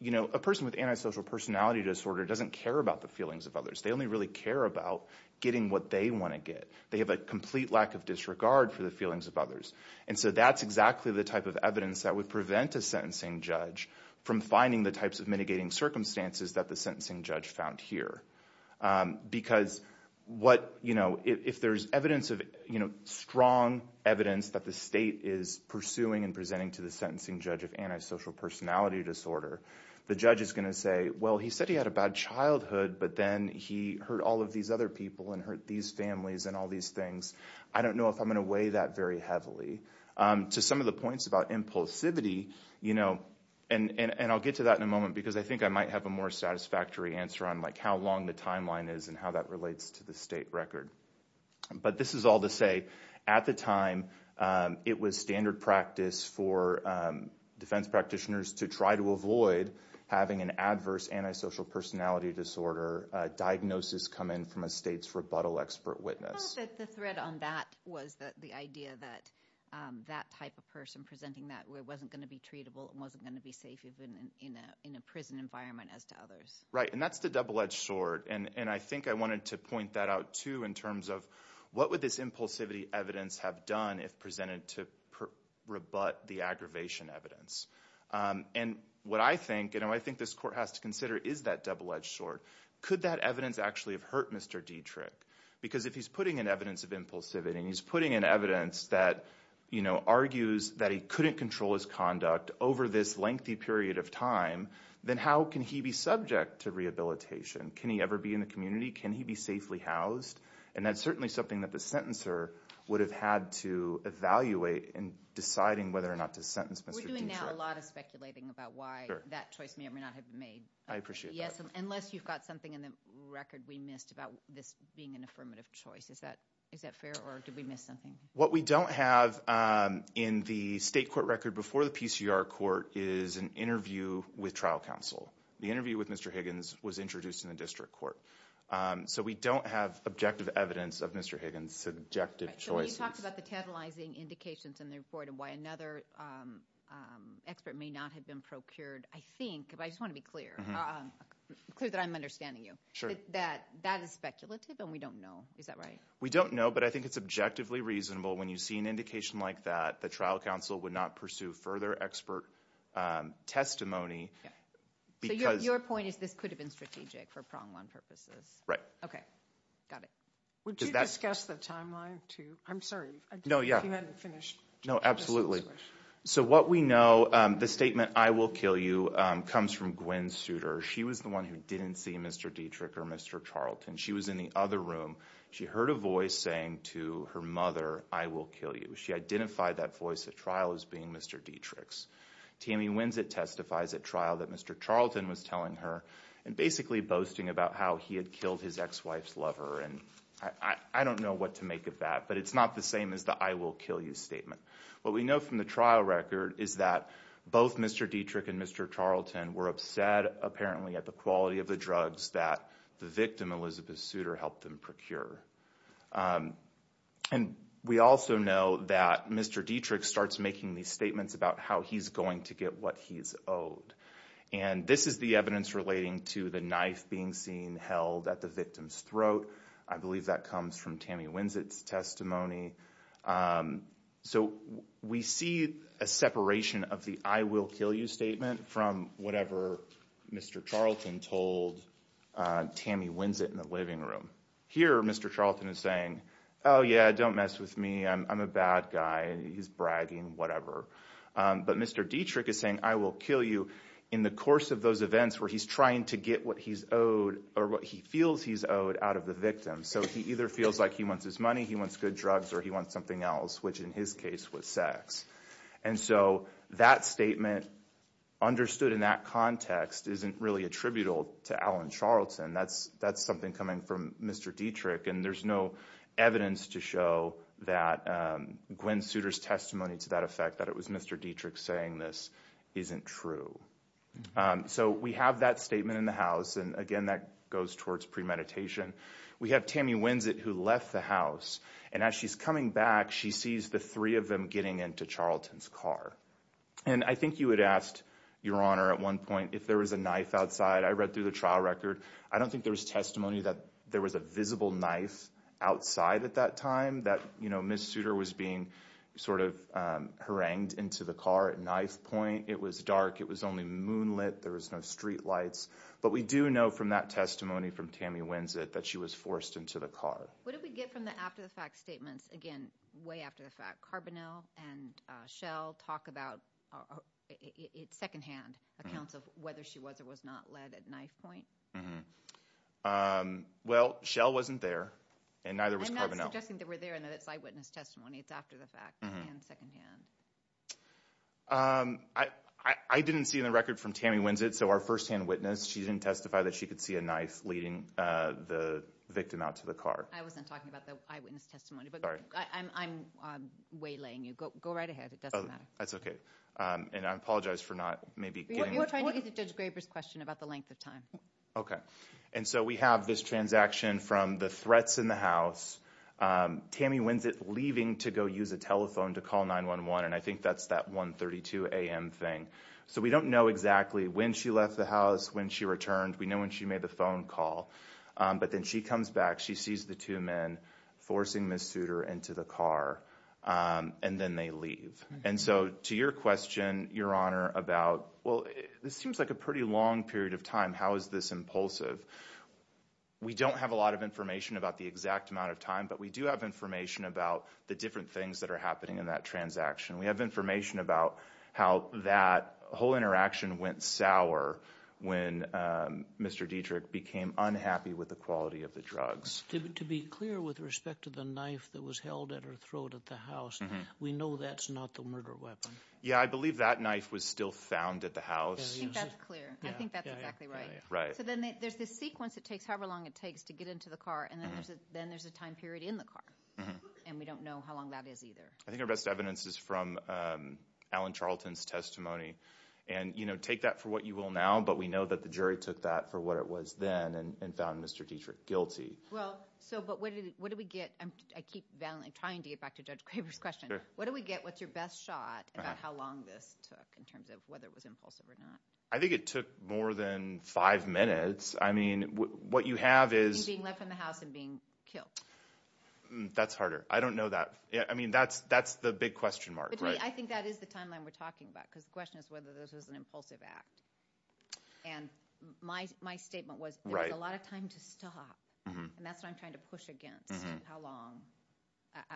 you know, a person with antisocial personality disorder doesn't care about the feelings of others. They only really care about getting what they wanna get. They have a complete lack of disregard for the feelings of others. And so that's exactly the type of evidence that would prevent a sentencing judge from finding the types of mitigating circumstances that the sentencing judge found here. Because what, you know, if there's evidence of, you know, strong evidence that the state is pursuing and presenting to the sentencing judge of antisocial personality disorder, the judge is gonna say, well, he said he had a bad childhood, but then he hurt all of these other people and hurt these families and all these things. I don't know if I'm gonna weigh that very heavily. To some of the points about impulsivity, you know, and I'll get to that in a moment, because I think I might have a more satisfactory answer on, like, how long the timeline is and how that relates to the state record. But this is all to say, at the time, it was standard practice for defense practitioners to try to avoid having an adverse antisocial personality disorder diagnosis come in from a state's rebuttal expert witness. I thought that the thread on that was that the idea that that type of person presenting that wasn't gonna be treatable and wasn't gonna be safe even in a prison environment, as to others. Right, and that's the double-edged sword. And I think I wanted to point that out, too, in terms of what would this impulsivity evidence have done if presented to rebut the aggravation evidence? And what I think, you know, I think this court has to consider is that double-edged sword. Could that evidence actually have hurt Mr. Dietrich? Because if he's putting in evidence of impulsivity and he's putting in evidence that, you know, argues that he couldn't control his conduct over this lengthy period of time, then how can he be subject to rehabilitation? Can he ever be in the community? Can he be safely housed? And that's certainly something that the sentencer would have had to evaluate in deciding whether or not to sentence Mr. Dietrich. We're doing now a lot of speculating about why that choice may or may not have been made. I appreciate that. Yes, unless you've got something in the record we missed about this being an affirmative choice. Is that fair, or did we miss something? What we don't have in the state court record before the PCR court is an interview with trial counsel. The interview with Mr. Higgins was introduced in the district court. So we don't have objective evidence of Mr. Higgins' subjective choices. So when you talked about the tantalizing indications in the report of why another expert may not have been procured, I think, but I just want to be clear, clear that I'm understanding you. Sure. That that is speculative and we don't know. Is that right? We don't know, but I think it's objectively reasonable when you see an indication like that the trial counsel would not pursue further expert testimony because... So your point is this could have been strategic for prong one purposes. Right. Okay, got it. Would you discuss the timeline too? I'm sorry, if you hadn't finished. No, absolutely. So what we know, the statement, I will kill you comes from Gwen Suter. She was the one who didn't see Mr. Dietrich or Mr. Charlton. She was in the other room. She heard a voice saying to her mother, I will kill you. She identified that voice at trial as being Mr. Dietrich's. Tammy Winsett testifies at trial that Mr. Charlton was telling her and basically boasting about how he had killed his ex-wife's lover. And I don't know what to make of that, but it's not the same as the I will kill you statement. What we know from the trial record is that both Mr. Dietrich and Mr. Charlton were upset apparently at the quality of the drugs that the victim, Elizabeth Suter, helped them procure. And we also know that Mr. Dietrich starts making these statements about how he's going to get what he's owed. And this is the evidence relating to the knife being seen held at the victim's throat. I believe that comes from Tammy Winsett's testimony. So we see a separation of the I will kill you statement from whatever Mr. Charlton told Tammy Winsett in the living room. Here, Mr. Charlton is saying, oh yeah, don't mess with me. I'm a bad guy. He's bragging, whatever. But Mr. Dietrich is saying, I will kill you in the course of those events where he's trying to get what he's owed or what he feels he's owed out of the victim. So he either feels like he wants his money, he wants good drugs, or he wants something else, which in his case was sex. And so that statement understood in that context isn't really attributable to Alan Charlton. That's something coming from Mr. Dietrich. And there's no evidence to show that Gwen Suter's testimony to that effect, that it was Mr. Dietrich saying this, isn't true. So we have that statement in the house. And again, that goes towards premeditation. We have Tammy Winsett who left the house. And as she's coming back, she sees the three of them getting into Charlton's car. And I think you had asked, Your Honor, at one point, if there was a knife outside. I read through the trial record. I don't think there was testimony that there was a visible knife outside at that time, that Ms. Suter was being sort of harangued into the car at knife point. It was dark. It was only moonlit. There was no streetlights. But we do know from that testimony from Tammy Winsett that she was forced into the car. What did we get from the after the fact statements? Again, way after the fact. Carbonell and Schell talk about, it's secondhand accounts of whether she was or was not led at knife point. Um, well, Schell wasn't there. And neither was Carbonell. I'm not suggesting that we're there in that eyewitness testimony. It's after the fact and secondhand. Um, I didn't see in the record from Tammy Winsett. So our firsthand witness, she didn't testify that she could see a knife leading the victim out to the car. I wasn't talking about the eyewitness testimony. But I'm waylaying you. Go right ahead. It doesn't matter. That's okay. And I apologize for not maybe getting... You were trying to get to Judge Graber's question about the length of time. Okay. And so we have this transaction from the threats in the house. Tammy Winsett leaving to go use a telephone to call 911. And I think that's that 1.32 a.m. thing. So we don't know exactly when she left the house, when she returned. We know when she made the phone call. But then she comes back. She sees the two men forcing Ms. Souter into the car. And then they leave. And so to your question, Your Honor, about, well, this seems like a pretty long period of time. How is this impulsive? We don't have a lot of information about the exact amount of time. But we do have information about the different things that are happening in that transaction. We have information about how that whole interaction went sour when Mr. Dietrich became unhappy with the quality of the drugs. To be clear with respect to the knife that was held at her throat at the house, we know that's not the murder weapon. Yeah, I believe that knife was still found at the house. I think that's clear. I think that's exactly right. So then there's this sequence. It takes however long it takes to get into the car. And then there's a time period in the car. And we don't know how long that is either. I think our best evidence is from Alan Charlton's testimony. And take that for what you will now. But we know that the jury took that for what it was then and found Mr. Dietrich guilty. Well, so but what do we get? I keep trying to get back to Judge Craver's question. What do we get? What's your best shot about how long this took in terms of whether it was impulsive or not? I think it took more than five minutes. I mean, what you have is- Being left in the house and being killed. That's harder. I don't know that. I mean, that's the big question mark. I think that is the timeline we're talking about. Because the question is whether this was an impulsive act. And my statement was there's a lot of time to stop. And that's what I'm trying to push against. How long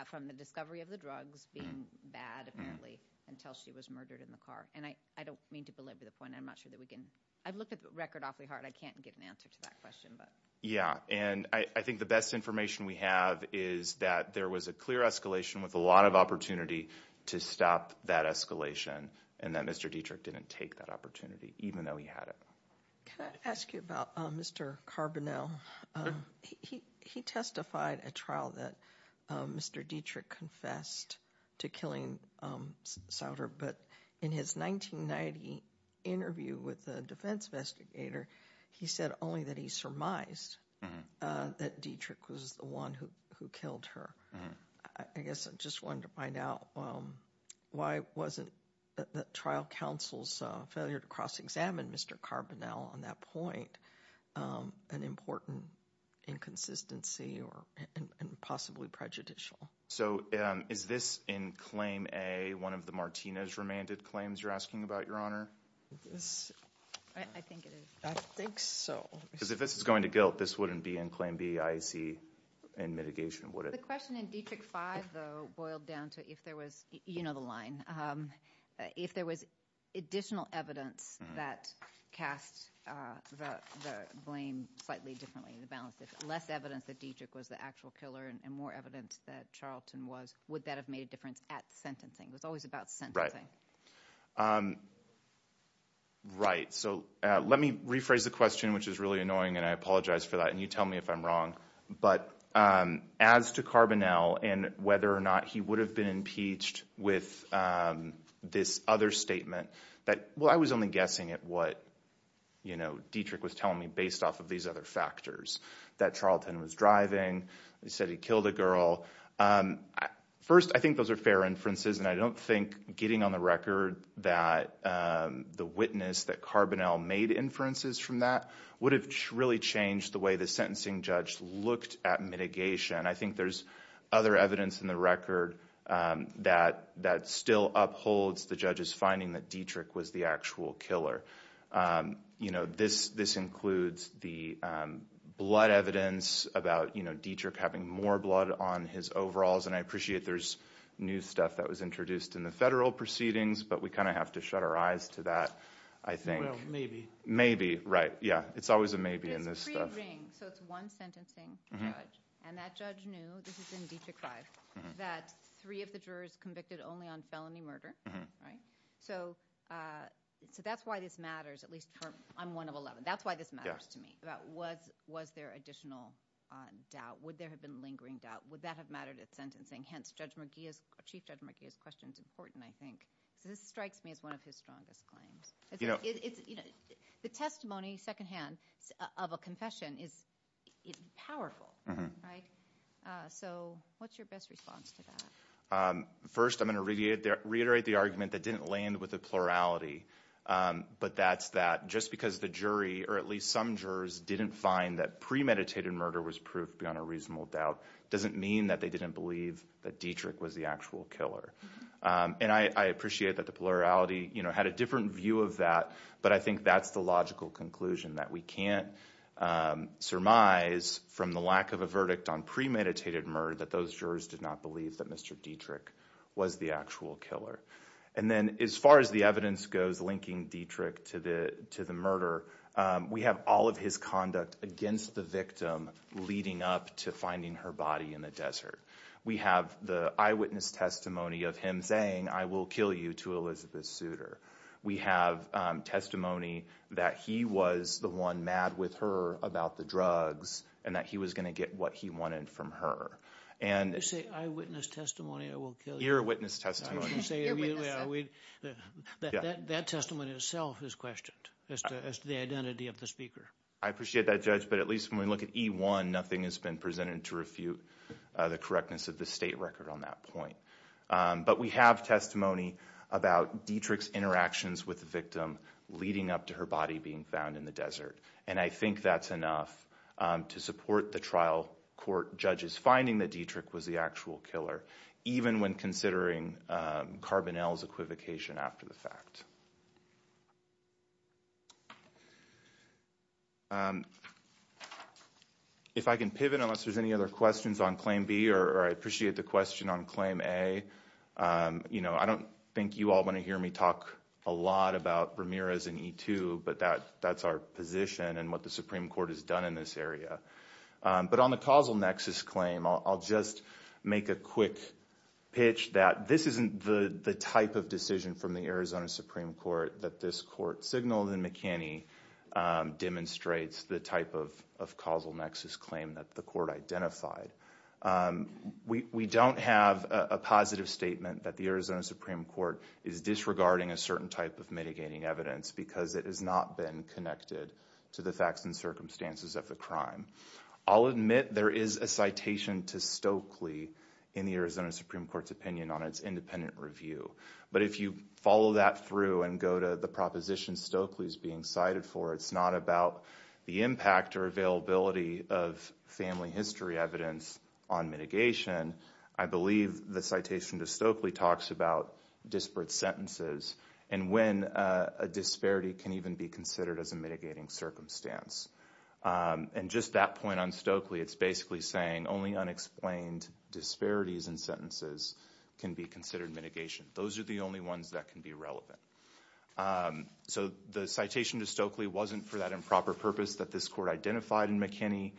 from the discovery of the drugs being bad, apparently, until she was murdered in the car. And I don't mean to belabor the point. I've looked at the record awfully hard. I can't get an answer to that question. Yeah, and I think the best information we have is that there was a clear escalation with a lot of opportunity to stop that escalation. And that Mr. Dietrich didn't take that opportunity, even though he had it. Can I ask you about Mr. Carbonell? He testified at trial that Mr. Dietrich confessed to killing Sauter. But in his 1990 interview with the defense investigator, he said only that he surmised that Dietrich was the one who killed her. I guess I just wanted to find out why wasn't the trial counsel's failure to cross-examine Mr. Carbonell on that point an important inconsistency or possibly prejudicial? So is this in Claim A, one of the Martinez-remanded claims you're asking about, Your Honor? I think it is. I think so. Because if this is going to guilt, this wouldn't be in Claim B, IAC, and mitigation, would it? The question in Dietrich 5, though, boiled down to if there was, you know the line, if there was additional evidence that cast the blame slightly differently, the balance, if less evidence that Dietrich was the actual killer and more evidence that Charlton was, would that have made a difference at sentencing? It was always about sentencing. Right. Right. So let me rephrase the question, which is really annoying, and I apologize for that. And you tell me if I'm wrong. But as to Carbonell and whether or not he would have been impeached with this other statement, that, well, I was only guessing at what, you know, Dietrich was telling me based off of these other factors, that Charlton was driving. He said he killed a girl. First, I think those are fair inferences, and I don't think getting on the record that the witness that Carbonell made inferences from that would have really changed the way the sentencing judge looked at mitigation. I think there's other evidence in the record that still upholds the judge's finding that Dietrich was the actual killer. You know, this includes the blood evidence about Dietrich having more blood on his overalls. And I appreciate there's new stuff that was introduced in the federal proceedings, but we kind of have to shut our eyes to that, I think. Well, maybe. Maybe, right. Yeah, it's always a maybe in this stuff. So it's one sentencing judge. And that judge knew, this is in Dietrich 5, that three of the jurors convicted only on felony murder, right? So that's why this matters, at least for I'm one of 11. That's why this matters to me, about was there additional doubt? Would there have been lingering doubt? Would that have mattered at sentencing? Hence, Chief Judge McGee's question is important, I think. So this strikes me as one of his strongest claims. The testimony, secondhand, of a confession is powerful, right? So what's your best response to that? First, I'm going to reiterate the argument that didn't land with the plurality. But that's that just because the jury, or at least some jurors, didn't find that premeditated murder was proof beyond a reasonable doubt, doesn't mean that they didn't believe that Dietrich was the actual killer. And I appreciate that the plurality had a different view of that. But I think that's the logical conclusion, that we can't surmise from the lack of a verdict on premeditated murder that those jurors did not believe that Mr. Dietrich was the actual killer. And then as far as the evidence goes linking Dietrich to the murder, we have all of his conduct against the victim leading up to finding her body in the desert. We have the eyewitness testimony of him saying, I will kill you, to Elizabeth Souter. We have testimony that he was the one mad with her about the drugs and that he was going to get what he wanted from her. You say eyewitness testimony, I will kill you? Earwitness testimony. Earwitness testimony. That testimony itself is questioned as to the identity of the speaker. I appreciate that, Judge. But at least when we look at E1, nothing has been presented to refute the correctness of the state record on that point. But we have testimony about Dietrich's interactions with the victim leading up to her body being found in the desert. And I think that's enough to support the trial court judges finding that Dietrich was the actual killer, even when considering Carbonell's equivocation after the fact. If I can pivot, unless there's any other questions on Claim B, or I appreciate the question on Claim A. I don't think you all want to hear me talk a lot about Ramirez and E2, but that's our position and what the Supreme Court has done in this area. But on the causal nexus claim, I'll just make a quick pitch that this isn't the type of decision from the Arizona Supreme Court that this court signaled in McKinney demonstrates the type of causal nexus claim that the court identified. We don't have a positive statement that the Arizona Supreme Court is disregarding a certain type of mitigating evidence because it has not been connected to the facts and circumstances of the crime. I'll admit there is a citation to Stokely in the Arizona Supreme Court's opinion on its independent review. But if you follow that through and go to the proposition Stokely's being cited for, it's not about the impact or availability of family history evidence on mitigation. I believe the citation to Stokely talks about disparate sentences and when a disparity can even be considered as a mitigating circumstance. And just that point on Stokely, it's basically saying only unexplained disparities in sentences can be considered mitigation. Those are the only ones that can be relevant. So the citation to Stokely wasn't for that improper purpose that this court identified in McKinney.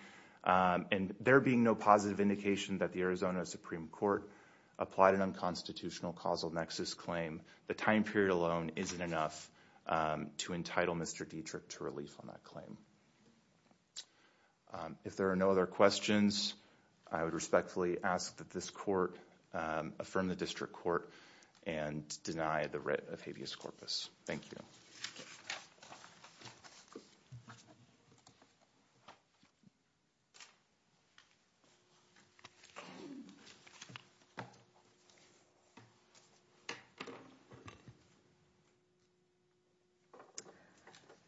And there being no positive indication that the Arizona Supreme Court applied an unconstitutional causal nexus claim, the time period alone isn't enough to entitle Mr. Dietrich to relief on that claim. If there are no other questions, I would respectfully ask that this court affirm the district court and deny the writ of habeas corpus. Thank you.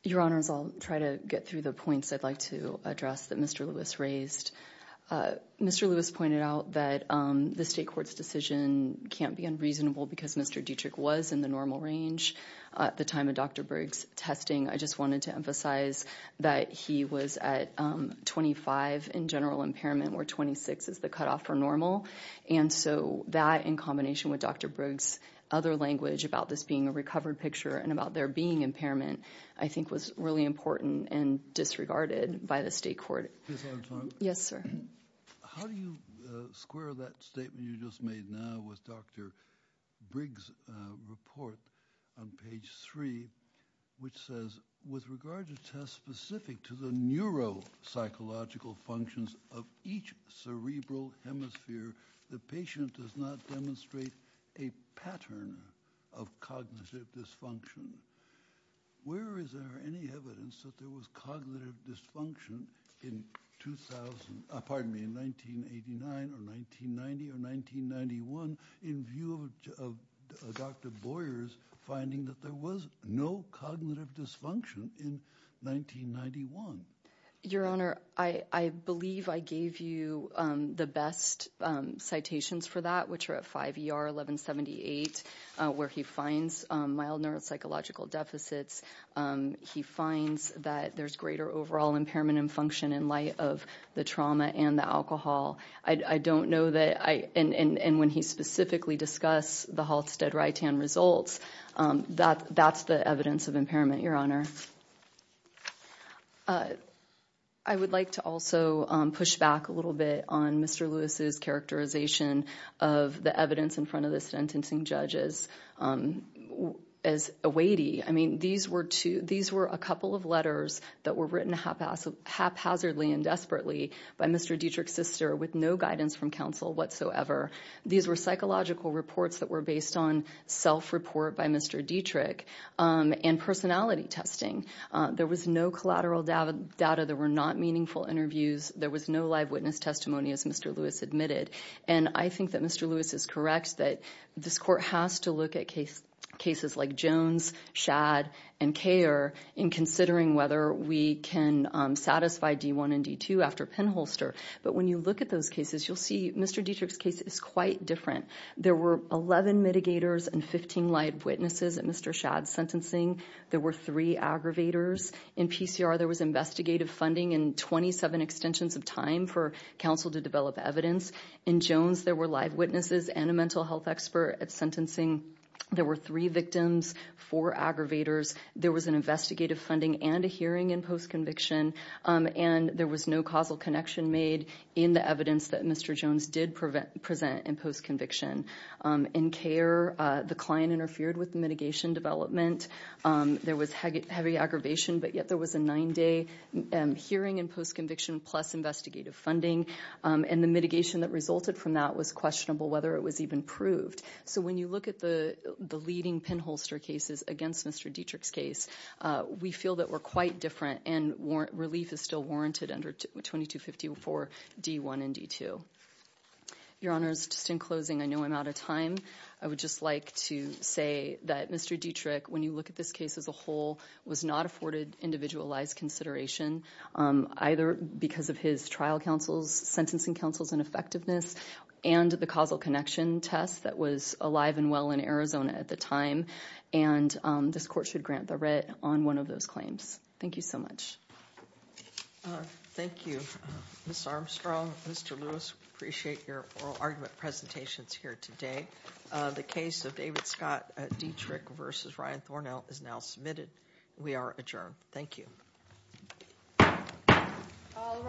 Your Honors, I'll try to get through the points I'd like to address that Mr. Lewis raised. Mr. Lewis pointed out that the state court's decision can't be unreasonable because Mr. Dietrich was in the normal range at the time of Dr. Briggs' testing. I just wanted to emphasize that he was at 25 in general impairment, where 26 is the cutoff for normal. And so that in combination with Dr. Briggs' other language about this being a recovered picture and about there being impairment, I think was really important and disregarded by the state court. Ms. Armstrong? Yes, sir. How do you square that statement you just made now with Dr. Briggs' report on page three, which says, with regard to tests specific to the neuropsychological functions of each cerebral hemisphere, the patient does not demonstrate a pattern of cognitive dysfunction. Where is there any evidence that there was cognitive dysfunction in 2000, pardon me, in 1989 or 1990 or 1991 in view of Dr. Boyer's finding that there was no cognitive dysfunction in 1991? Your Honor, I believe I gave you the best citations for that, which are at 5 ER 1178, where he finds mild neuropsychological deficits. He finds that there's greater overall impairment and function in light of the trauma and the alcohol. I don't know that I, and when he specifically discuss the Halstead-Ritan results, that's the evidence of impairment, Your Honor. I would like to also push back a little bit on Mr. Lewis's characterization of the evidence in front of the sentencing judges as a weighty. I mean, these were two, these were a couple of letters that were written haphazardly and desperately by Mr. Dietrich's sister with no guidance from counsel whatsoever. These were psychological reports that were based on self-report by Mr. Dietrich and personality testing. There was no collateral data. There were not meaningful interviews. There was no live witness testimony as Mr. Lewis admitted. And I think that Mr. Lewis is correct that this court has to look at cases like Jones, Shad, and Kher in considering whether we can satisfy D1 and D2 after Penholster. But when you look at those cases, you'll see Mr. Dietrich's case is quite different. There were 11 mitigators and 15 live witnesses at Mr. Shad's sentencing. There were three aggravators. In PCR, there was investigative funding and 27 extensions of time for counsel to develop evidence. In Jones, there were live witnesses and a mental health expert at sentencing. There were three victims, four aggravators. There was an investigative funding and a hearing in post-conviction. And there was no causal connection made in the evidence that Mr. Jones did present in post-conviction. In Kher, the client interfered with the mitigation development. There was heavy aggravation, but yet there was a nine-day hearing in post-conviction plus investigative funding. And the mitigation that resulted from that was questionable whether it was even proved. So when you look at the leading Penholster cases against Mr. Dietrich's case, we feel that we're quite different and relief is still warranted under 2254 D1 and D2. Your honors, just in closing, I know I'm out of time. I would just like to say that Mr. Dietrich, when you look at this case as a whole, was not afforded individualized consideration either because of his trial counsels, sentencing counsels and effectiveness and the causal connection test that was alive and well in Arizona at the time. And this court should grant the writ on one of those claims. Thank you so much. All right. Thank you, Ms. Armstrong. Mr. Lewis, appreciate your oral argument presentations here today. The case of David Scott Dietrich versus Ryan Thornhill is now submitted. We are adjourned. Thank you. All rise.